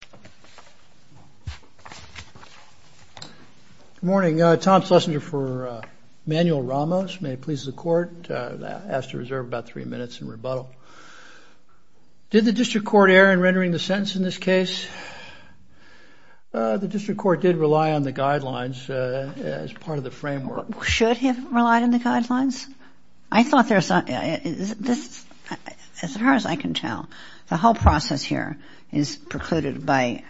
Good morning. Tom Schlesinger for Manuel Ramos. May it please the Court. I ask to reserve about three minutes in rebuttal. Did the District Court err in rendering the sentence in this case? The District Court did rely on the guidelines as part of the framework. Should he have relied on the guidelines? As far as I can tell, the whole process here is precluded by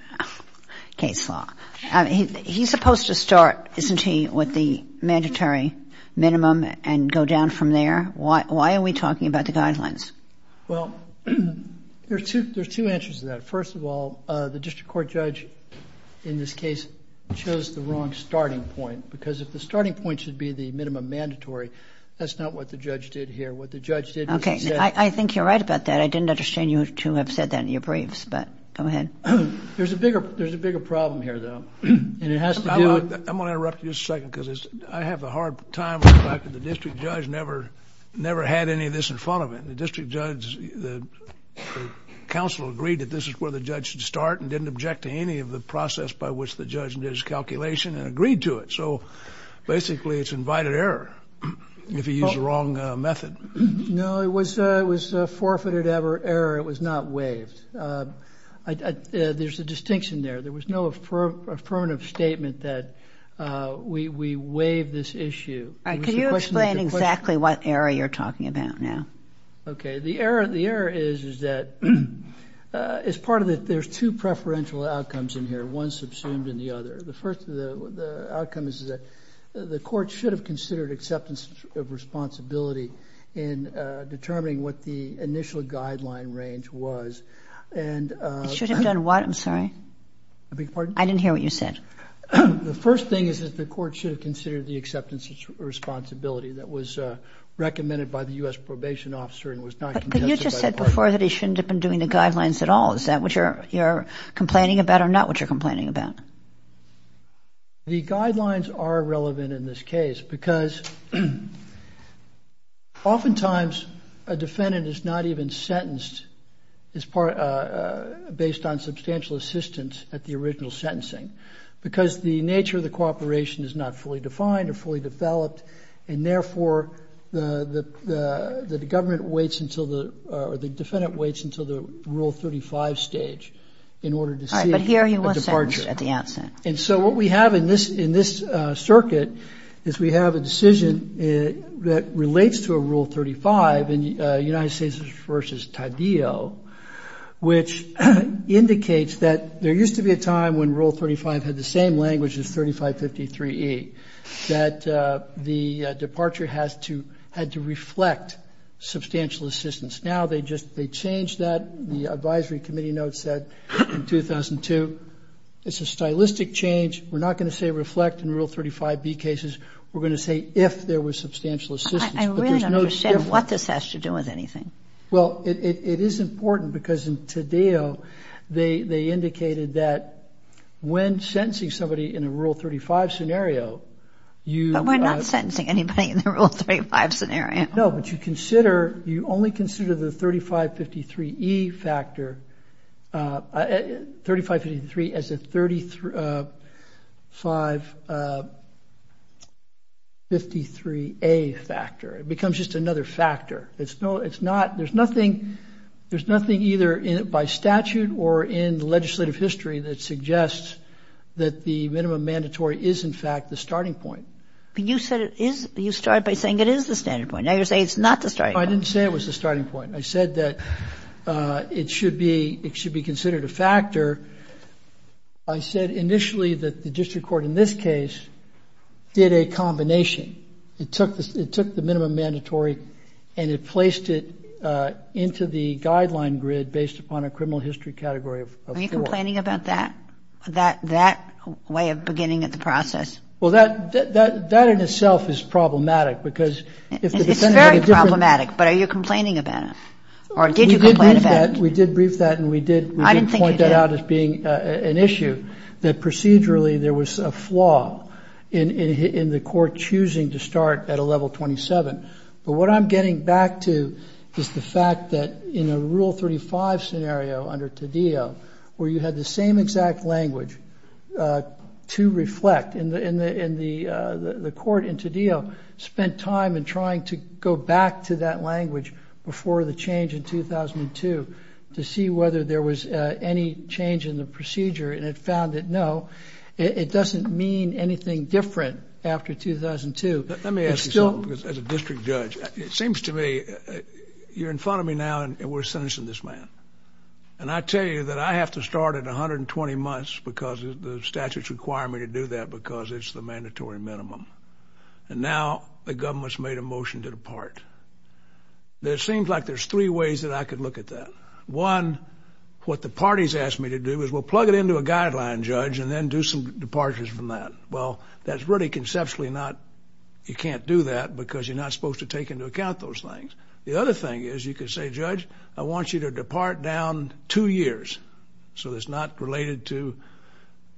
case law. He's supposed to start, isn't he, with the mandatory minimum and go down from there? Why are we talking about the guidelines? Well, there's two answers to that. First of all, the District Court judge in this case chose the wrong starting point, because if the starting point should be the minimum mandatory, that's not what the judge did here. What the judge did was he said... I think you're right about that. I didn't understand you to have said that in your briefs, but go ahead. There's a bigger problem here, though, and it has to do with... I'm going to interrupt you just a second, because I have a hard time with the fact that the district judge never had any of this in front of him. The district judge, the counsel agreed that this is where the judge should start and didn't object to any of the process by which the judge did his calculation and agreed to it. So basically, it's invited error if he used the wrong method. No, it was forfeited error. It was not waived. There's a distinction there. There was no affirmative statement that we waived this issue. Could you explain exactly what error you're talking about now? Okay. The error is that... As part of it, there's two preferential outcomes in here, one subsumed in the other. The first of the outcomes is that the court should have considered acceptance of responsibility in determining what the initial guideline range was. It should have done what? I'm sorry? I didn't hear what you said. The first thing is that the court should have considered the acceptance of responsibility that was recommended by the U.S. probation officer and was not congested by the court. But you just said before that he shouldn't have been doing the guidelines at all. Is that what you're complaining about or not what you're complaining about? The guidelines are relevant in this case because oftentimes a defendant is not even sentenced based on substantial assistance at the original sentencing because the nature of the cooperation is not fully defined or fully developed. And therefore, the government waits until the... The defendant waits until the Rule 35 stage in order to see a departure. At the outset. And so what we have in this circuit is we have a decision that relates to a Rule 35 in United States v. Taddeo, which indicates that there used to be a time when Rule 35 had the same language as 3553E, that the departure had to reflect substantial assistance. Now they changed that. The advisory committee notes that in 2002. It's a stylistic change. We're not going to say reflect in Rule 35B cases. We're going to say if there was substantial assistance. I really don't understand what this has to do with anything. Well, it is important because in Taddeo, they indicated that when sentencing somebody in a Rule 35 scenario, you... But we're not sentencing anybody in a Rule 35 scenario. No, but you consider... You only consider the 3553E factor... 3553 as a 3553A factor. It becomes just another factor. It's no... It's not... There's nothing... There's nothing either by statute or in the legislative history that suggests that the minimum mandatory is in fact the starting point. But you said it is. You started by saying it is the starting point. Now you're saying it's not the starting point. I didn't say it was the starting point. I said that it should be... It should be considered a factor. I said initially that the district court in this case did a combination. It took the minimum mandatory and it placed it into the guideline grid based upon a criminal history category of four. Are you complaining about that? That way of beginning at the process? Well, that in itself is problematic because if the defendant had a different... It's very problematic, but are you complaining about it? Or did you complain about it? We did brief that and we did... I didn't think you did. ...point that out as being an issue, that procedurally there was a flaw in the court choosing to start at a level 27. But what I'm getting back to is the fact that in a level 35 scenario under Taddeo where you had the same exact language to reflect in the court in Taddeo spent time in trying to go back to that language before the change in 2002 to see whether there was any change in the procedure and it found that no, it doesn't mean anything different after 2002. Let me ask you something as a district judge. It seems to me you're in front of me now and we're sentencing this man. And I tell you that I have to start at 120 months because the statutes require me to do that because it's the mandatory minimum. And now the government's made a motion to depart. It seems like there's three ways that I could look at that. One, what the party's asked me to do is we'll plug it into a guideline, Judge, and then do some departures from that. Well, that's really conceptually not... You can't do that because you're not supposed to take into account those things. The other thing is you could say, Judge, I want you to depart down two years. So it's not related to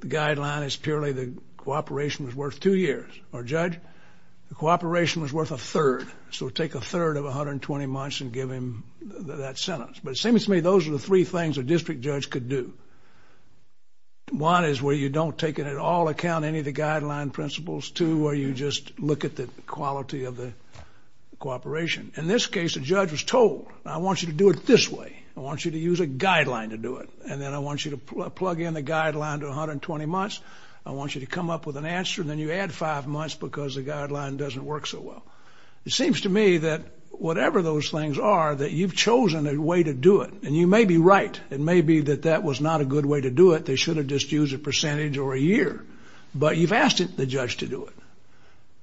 the guideline. It's purely the cooperation was worth two years. Or, Judge, the cooperation was worth a third. So take a third of 120 months and give him that sentence. But it seems to me those are the three things a district judge could do. One is where you don't take it at all account, any of the guideline principles. Two, where you just look at the quality of the cooperation. In this case, the judge was told, I want you to do it this way. I want you to use a guideline to do it. And then I want you to plug in the guideline to 120 months. I want you to come up with an answer. And then you add five months because the guideline doesn't work so well. It seems to me that whatever those things are, that you've chosen a way to do it. And you may be right. It may be that that was not a good way to do it. They should have just used a percentage or a year. But you've asked the question.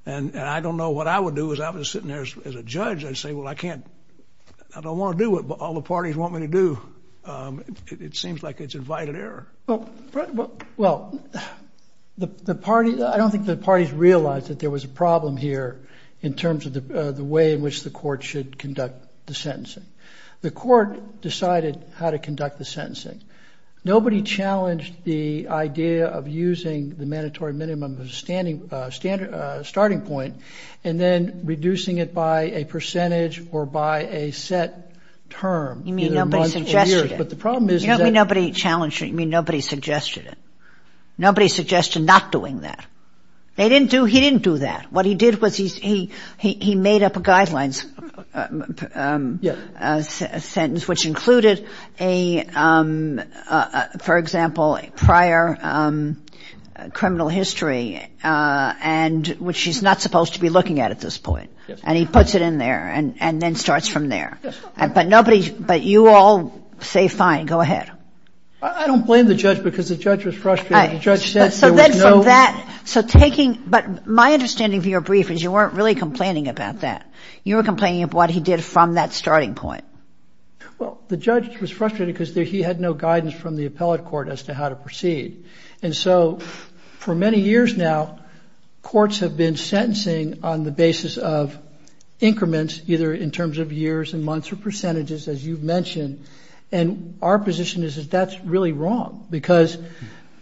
What I would do is I was sitting there as a judge. I'd say, well, I don't want to do it, but all the parties want me to do. It seems like it's invited error. Well, I don't think the parties realized that there was a problem here in terms of the way in which the court should conduct the sentencing. The court decided how to conduct the sentencing. Nobody challenged the idea of using the mandatory minimum as a starting point and then reducing it by a percentage or by a set term, either months or years. You mean nobody suggested it? You don't mean nobody challenged it? You mean nobody suggested it? Nobody suggested not doing that? He didn't do that. What he did was he made up a guidelines sentence which included a, for example, prior criminal history and which he's not supposed to be looking at at this point. And he puts it in there and then starts from there. But nobody, but you all say fine, go ahead. I don't blame the judge because the judge was frustrated. The judge said there was no So then from that, so taking, but my understanding of your brief is you weren't really complaining about that. You were complaining of what he did from that starting point. Well, the judge was frustrated because he had no guidance from the appellate court as to how to proceed. And so for many years now, courts have been sentencing on the basis of increments either in terms of years and months or percentages, as you've mentioned. And our position is that that's really wrong because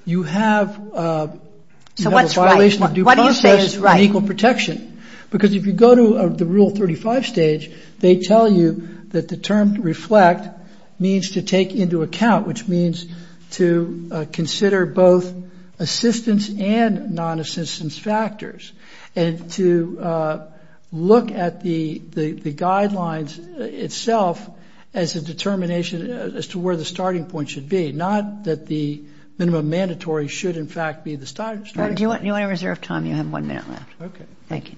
you have a violation of due process and equal protection. Because if you go to the Rule 35 stage, they tell you that the term to reflect means to take into account, which means to consider both assistance and non-assistance factors and to look at the guidelines itself as a determination as to where the starting point should be. Not that the minimum mandatory should in fact be the starting point. Do you want to reserve time? You have one minute left. Okay. Thank you.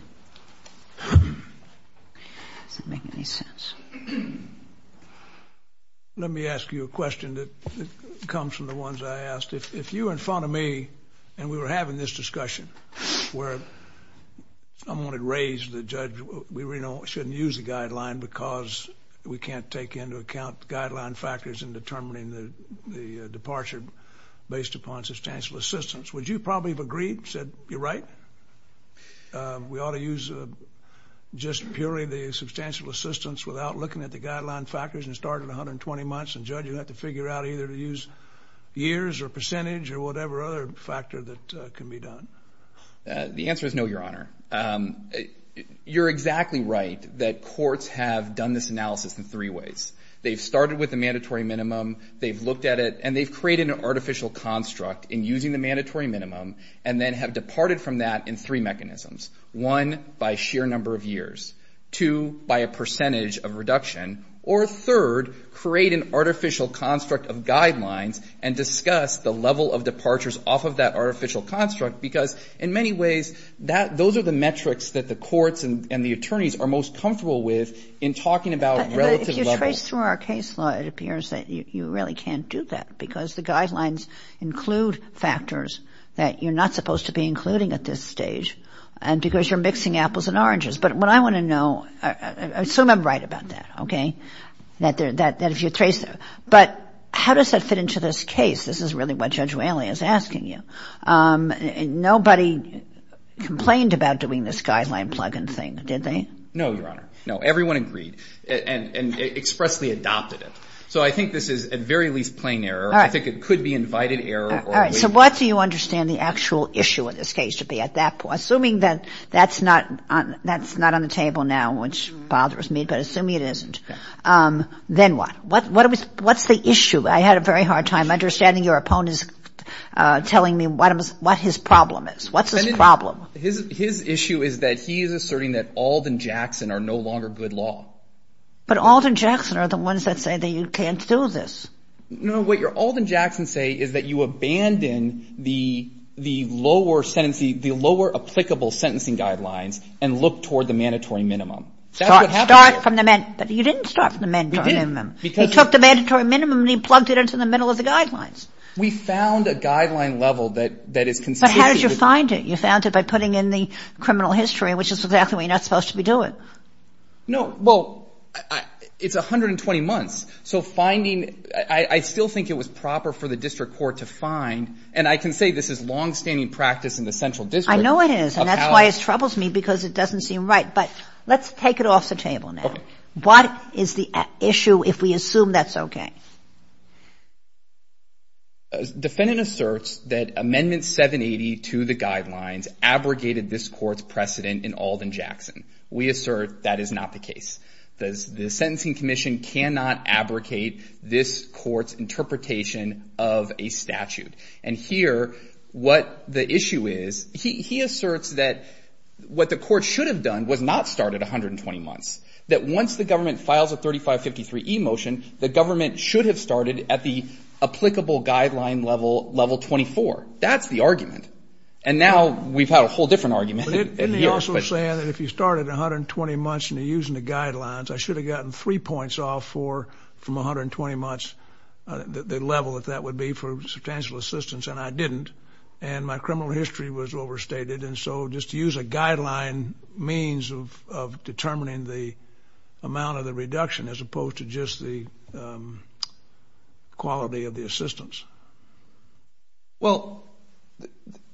Does that make any sense? Let me ask you a question that comes from the ones I asked. If you were in front of me, and we were having this discussion where someone had raised to the judge, we really shouldn't use the guideline because we can't take into account guideline factors in determining the departure based upon substantial assistance. Would you probably have agreed, said, you're right? We ought to use just purely the substantial assistance without looking at the guideline factors and start at 120 months. And judge, you'd have to figure out either to use years or percentage or whatever other factor that can be done. The answer is no, Your Honor. You're exactly right that courts have done this analysis in three ways. They've started with the mandatory minimum, they've looked at it, and they've created an artificial construct in using the mandatory minimum and then have departed from that in three mechanisms. One, by sheer number of years. Two, by a percentage of reduction. Or third, create an artificial construct of guidelines and discuss the level of departures off of that artificial construct because in many ways, those are the metrics that the case law, it appears that you really can't do that because the guidelines include factors that you're not supposed to be including at this stage and because you're mixing apples and oranges. But what I want to know, I assume I'm right about that, okay, that if you trace that. But how does that fit into this case? This is really what Judge Whaley is asking you. Nobody complained about doing this guideline plug-in thing, did they? No, Your Honor. No, everyone agreed and expressly adopted it. So I think this is at very least plain error. I think it could be invited error. All right. So what do you understand the actual issue of this case to be at that point? Assuming that that's not on the table now, which bothers me, but assuming it isn't, then what? What's the issue? I had a very hard time understanding your opponent's telling me what his problem is. What's his problem? His issue is that he is asserting that Alden-Jackson are no longer good law. But Alden-Jackson are the ones that say that you can't do this. No, what your Alden-Jackson say is that you abandon the lower sentence, the lower applicable sentencing guidelines and look toward the mandatory minimum. Start from the, you didn't start from the mandatory minimum. We did. He took the mandatory minimum and he plugged it into the middle of the guidelines. We found a guideline level that is consistent. But how did you find it? You found it by putting in the criminal history, which is exactly what you're not supposed to be doing. No. Well, it's 120 months. So finding, I still think it was proper for the district court to find, and I can say this is longstanding practice in the central district. I know it is. And that's why it troubles me because it doesn't seem right. But let's take it off the table now. Okay. What is the issue if we assume that's okay? Defendant asserts that Amendment 780 to the guidelines abrogated this court's precedent in Alden-Jackson. We assert that is not the case. The Sentencing Commission cannot abrogate this court's interpretation of a statute. And here what the issue is, he asserts that what the court should have done was not start at 120 months. That once the government files a 3553E motion, the government should have started at the applicable guideline level 24. That's the argument. And now we've had a whole different argument. But isn't he also saying that if you started at 120 months and you're using the guidelines, I should have gotten three points off from 120 months, the level that that would be for substantial assistance, and I didn't. And my criminal history was overstated. And so just to use a guideline means of determining the amount of the reduction as opposed to just the quality of the assistance. Well,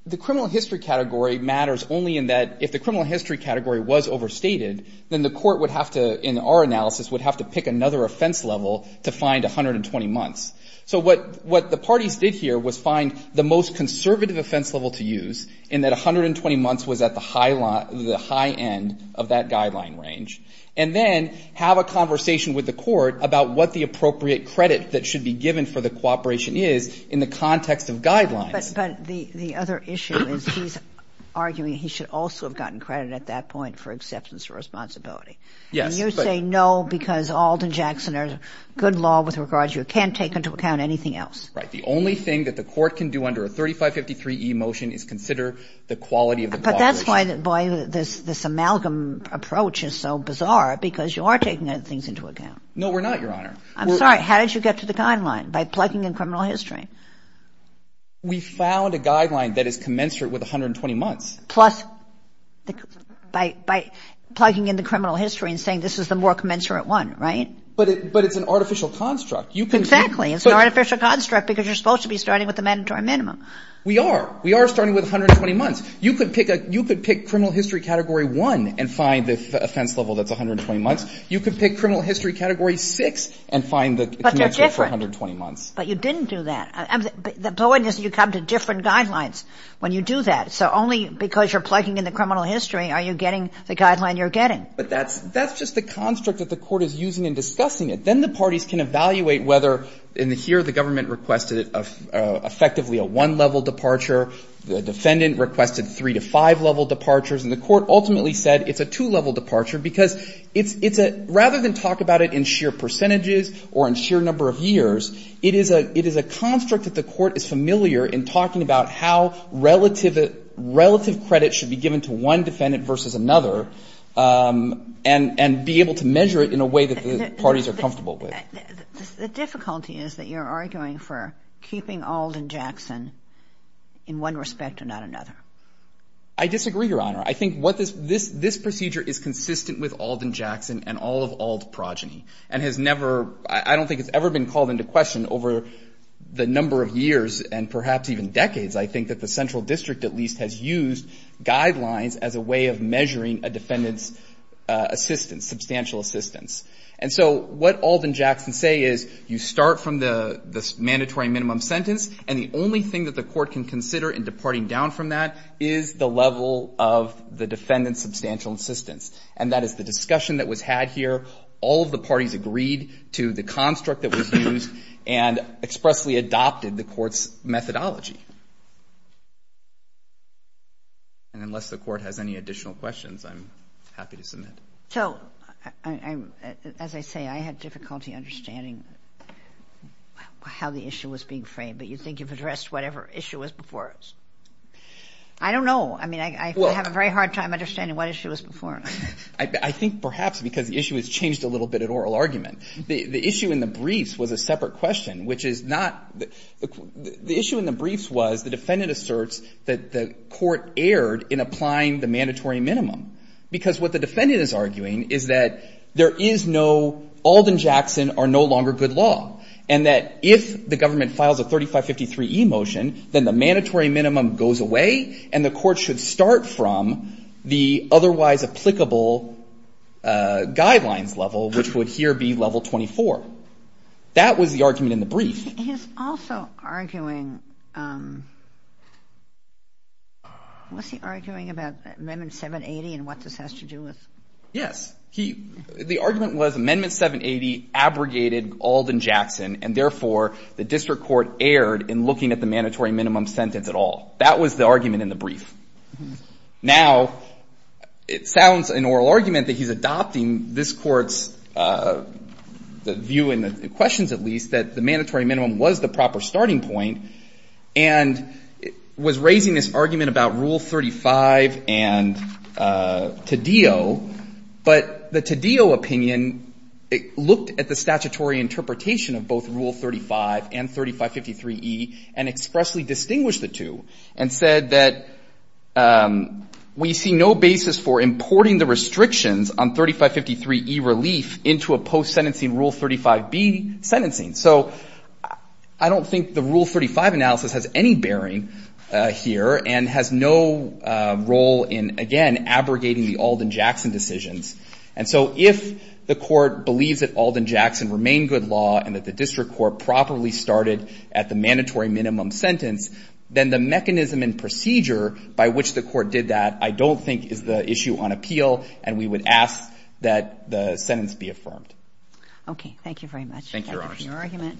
the criminal history category matters only in that if the criminal history category was overstated, then the court would have to, in our analysis, would have to pick another offense level to find 120 months. So what the parties did here was find the most conservative offense level to use in that 120 months was at the high end of that guideline range, and then have a conversation with the court about what the appropriate credit that should be given for the cooperation is in the context of guidelines. But the other issue is he's arguing he should also have gotten credit at that point for acceptance of responsibility. Yes. And you say no because Alden-Jackson or good law with regard to it can't take into account anything else. Right. The only thing that the court can do under a 3553e motion is consider the quality of the cooperation. But that's why, boy, this amalgam approach is so bizarre, because you are taking things into account. No, we're not, Your Honor. I'm sorry. How did you get to the guideline? By plugging in criminal history. We found a guideline that is commensurate with 120 months. Plus by plugging in the criminal history and saying this is the more commensurate one, right? But it's an artificial construct. You can see. Exactly. It's an artificial construct because you're supposed to be starting with the mandatory minimum. We are. We are starting with 120 months. You could pick criminal history category one and find the offense level that's 120 months. You could pick criminal history category six and find the connection for 120 months. But they're different. But you didn't do that. The point is you come to different guidelines when you do that. So only because you're plugging in the criminal history are you getting the guideline you're getting. But that's just the construct that the court is using in discussing it. Then the parties can evaluate whether in here the government requested effectively a one-level departure. The defendant requested three to five-level departures. And the court ultimately said it's a two-level departure because it's a rather than talk about it in sheer percentages or in sheer number of years, it is a construct that the court is familiar in talking about how relative credit should be given to one defendant versus another and be able to measure it in a way that the parties are comfortable with. The difficulty is that you're arguing for keeping Auld and Jackson in one respect or not another. I disagree, Your Honor. I think what this procedure is consistent with Auld and Jackson and all of Auld progeny and has never, I don't think it's ever been called into question over the number of years and perhaps even decades, I think that the central district at least has used guidelines as a way of measuring a defendant's assistance, substantial assistance. And so what Auld and Jackson say is you start from the mandatory minimum sentence and the only thing that the court can consider in departing down from that is the level of the defendant's substantial assistance. And that is the discussion that was had here. All of the parties agreed to the construct that was used and expressly adopted the court's methodology. And unless the court has any additional questions, I'm happy to submit. So, as I say, I had difficulty understanding how the issue was being framed, but you think you've addressed whatever issue was before us. I don't know. I mean, I have a very hard time understanding what issue was before us. I think perhaps because the issue has changed a little bit in oral argument. The issue in the briefs was a separate question, which is not the issue in the briefs was the defendant asserts that the court erred in applying the mandatory minimum because what the defendant is arguing is that there is no Auld and Jackson are no longer good law. And that if the government files a 3553e motion, then the mandatory minimum goes away and the court should start from the otherwise applicable guidelines level, which would here be level 24. That was the argument in the brief. He's also arguing, was he arguing about Amendment 780 and what this has to do with? Yes. He, the argument was Amendment 780 abrogated Auld and Jackson, and therefore the district court erred in looking at the mandatory minimum sentence at all. That was the argument in the brief. Now, it sounds in oral argument that he's adopting this Court's view and questions at least that the mandatory minimum was the proper starting point and was raising this argument about Rule 35 and Taddeo, but the Taddeo opinion looked at the statutory interpretation of both Rule 35 and 3553e and expressly distinguished the two and said that we see no basis for importing the restrictions on 3553e relief into a post-sentencing Rule 35b sentencing. So I don't think the Rule 35 analysis has any bearing here and has no role in, again, abrogating the Auld and Jackson decisions. And so if the court believes that Auld and Jackson remain good law and that the district court properly started at the mandatory minimum sentence, then the mechanism and procedure by which the court did that I don't think is the issue on appeal, and we would ask that the sentence be affirmed. Okay. Thank you, Your Honor. Thank you for your argument.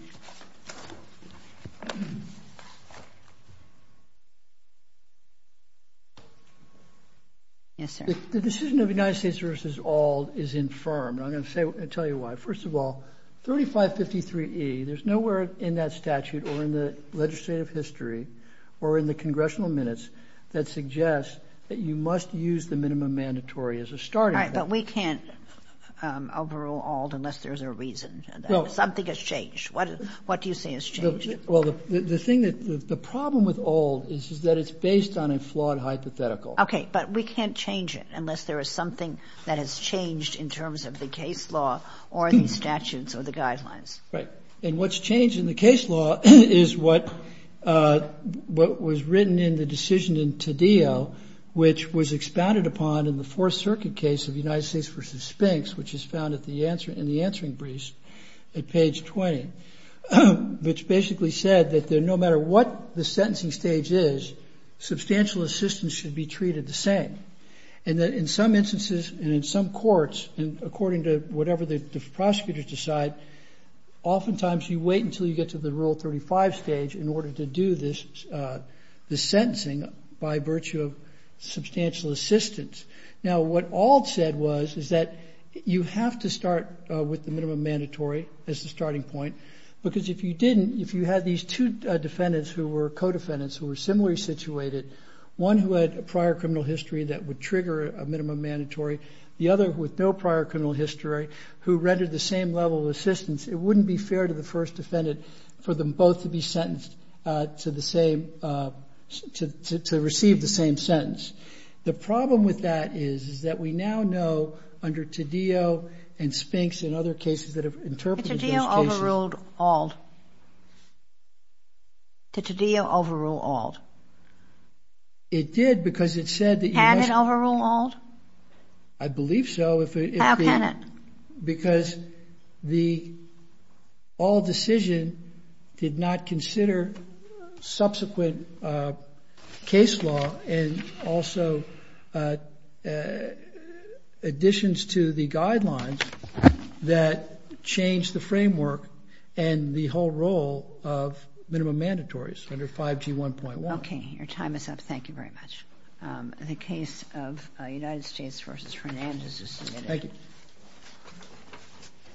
Yes, sir. The decision of the United States v. Auld is infirmed. I'm going to tell you why. First of all, 3553e, there's nowhere in that statute or in the legislative history or in the congressional minutes that suggests that you must use the minimum mandatory as a starting point. All right. But we can't overrule Auld unless there's a reason. Something has changed. What do you say has changed? Well, the thing that the problem with Auld is that it's based on a flawed hypothetical. Okay. But we can't change it unless there is something that has changed in terms of the case law or the statutes or the guidelines. Right. And what's changed in the case law is what was written in the decision in Taddeo, which was expounded upon in the Fourth Circuit case of United States v. Spinks, which is found in the answering briefs at page 20, which basically said that no matter what the sentencing stage is, substantial assistance should be treated the same. And that in some instances and in some courts, according to whatever the prosecutors decide, oftentimes you wait until you get to the Rule 35 stage in order to do this sentencing by virtue of substantial assistance. Now, what Auld said was is that you have to start with the minimum mandatory as the starting point because if you didn't, if you had these two defendants who were co-defendants who were similarly situated, one who had a prior criminal history that would trigger a minimum mandatory, the other with no prior criminal history who rendered the same level of assistance, it wouldn't be fair to the first defendant for them both to be sentenced to the same, to receive the same sentence. The problem with that is, is that we now know under Taddeo and Spinks and other cases that have interpreted those cases. Did Taddeo overrule Auld? Did Taddeo overrule Auld? It did because it said that you must. Can it overrule Auld? I believe so. How can it? Because the Auld decision did not consider subsequent case law and also additions to the guidelines that changed the framework and the whole role of minimum mandatories under 5G1.1. Okay. Your time is up. Thank you very much. The case of United States v. Fernandez is submitted. Thank you.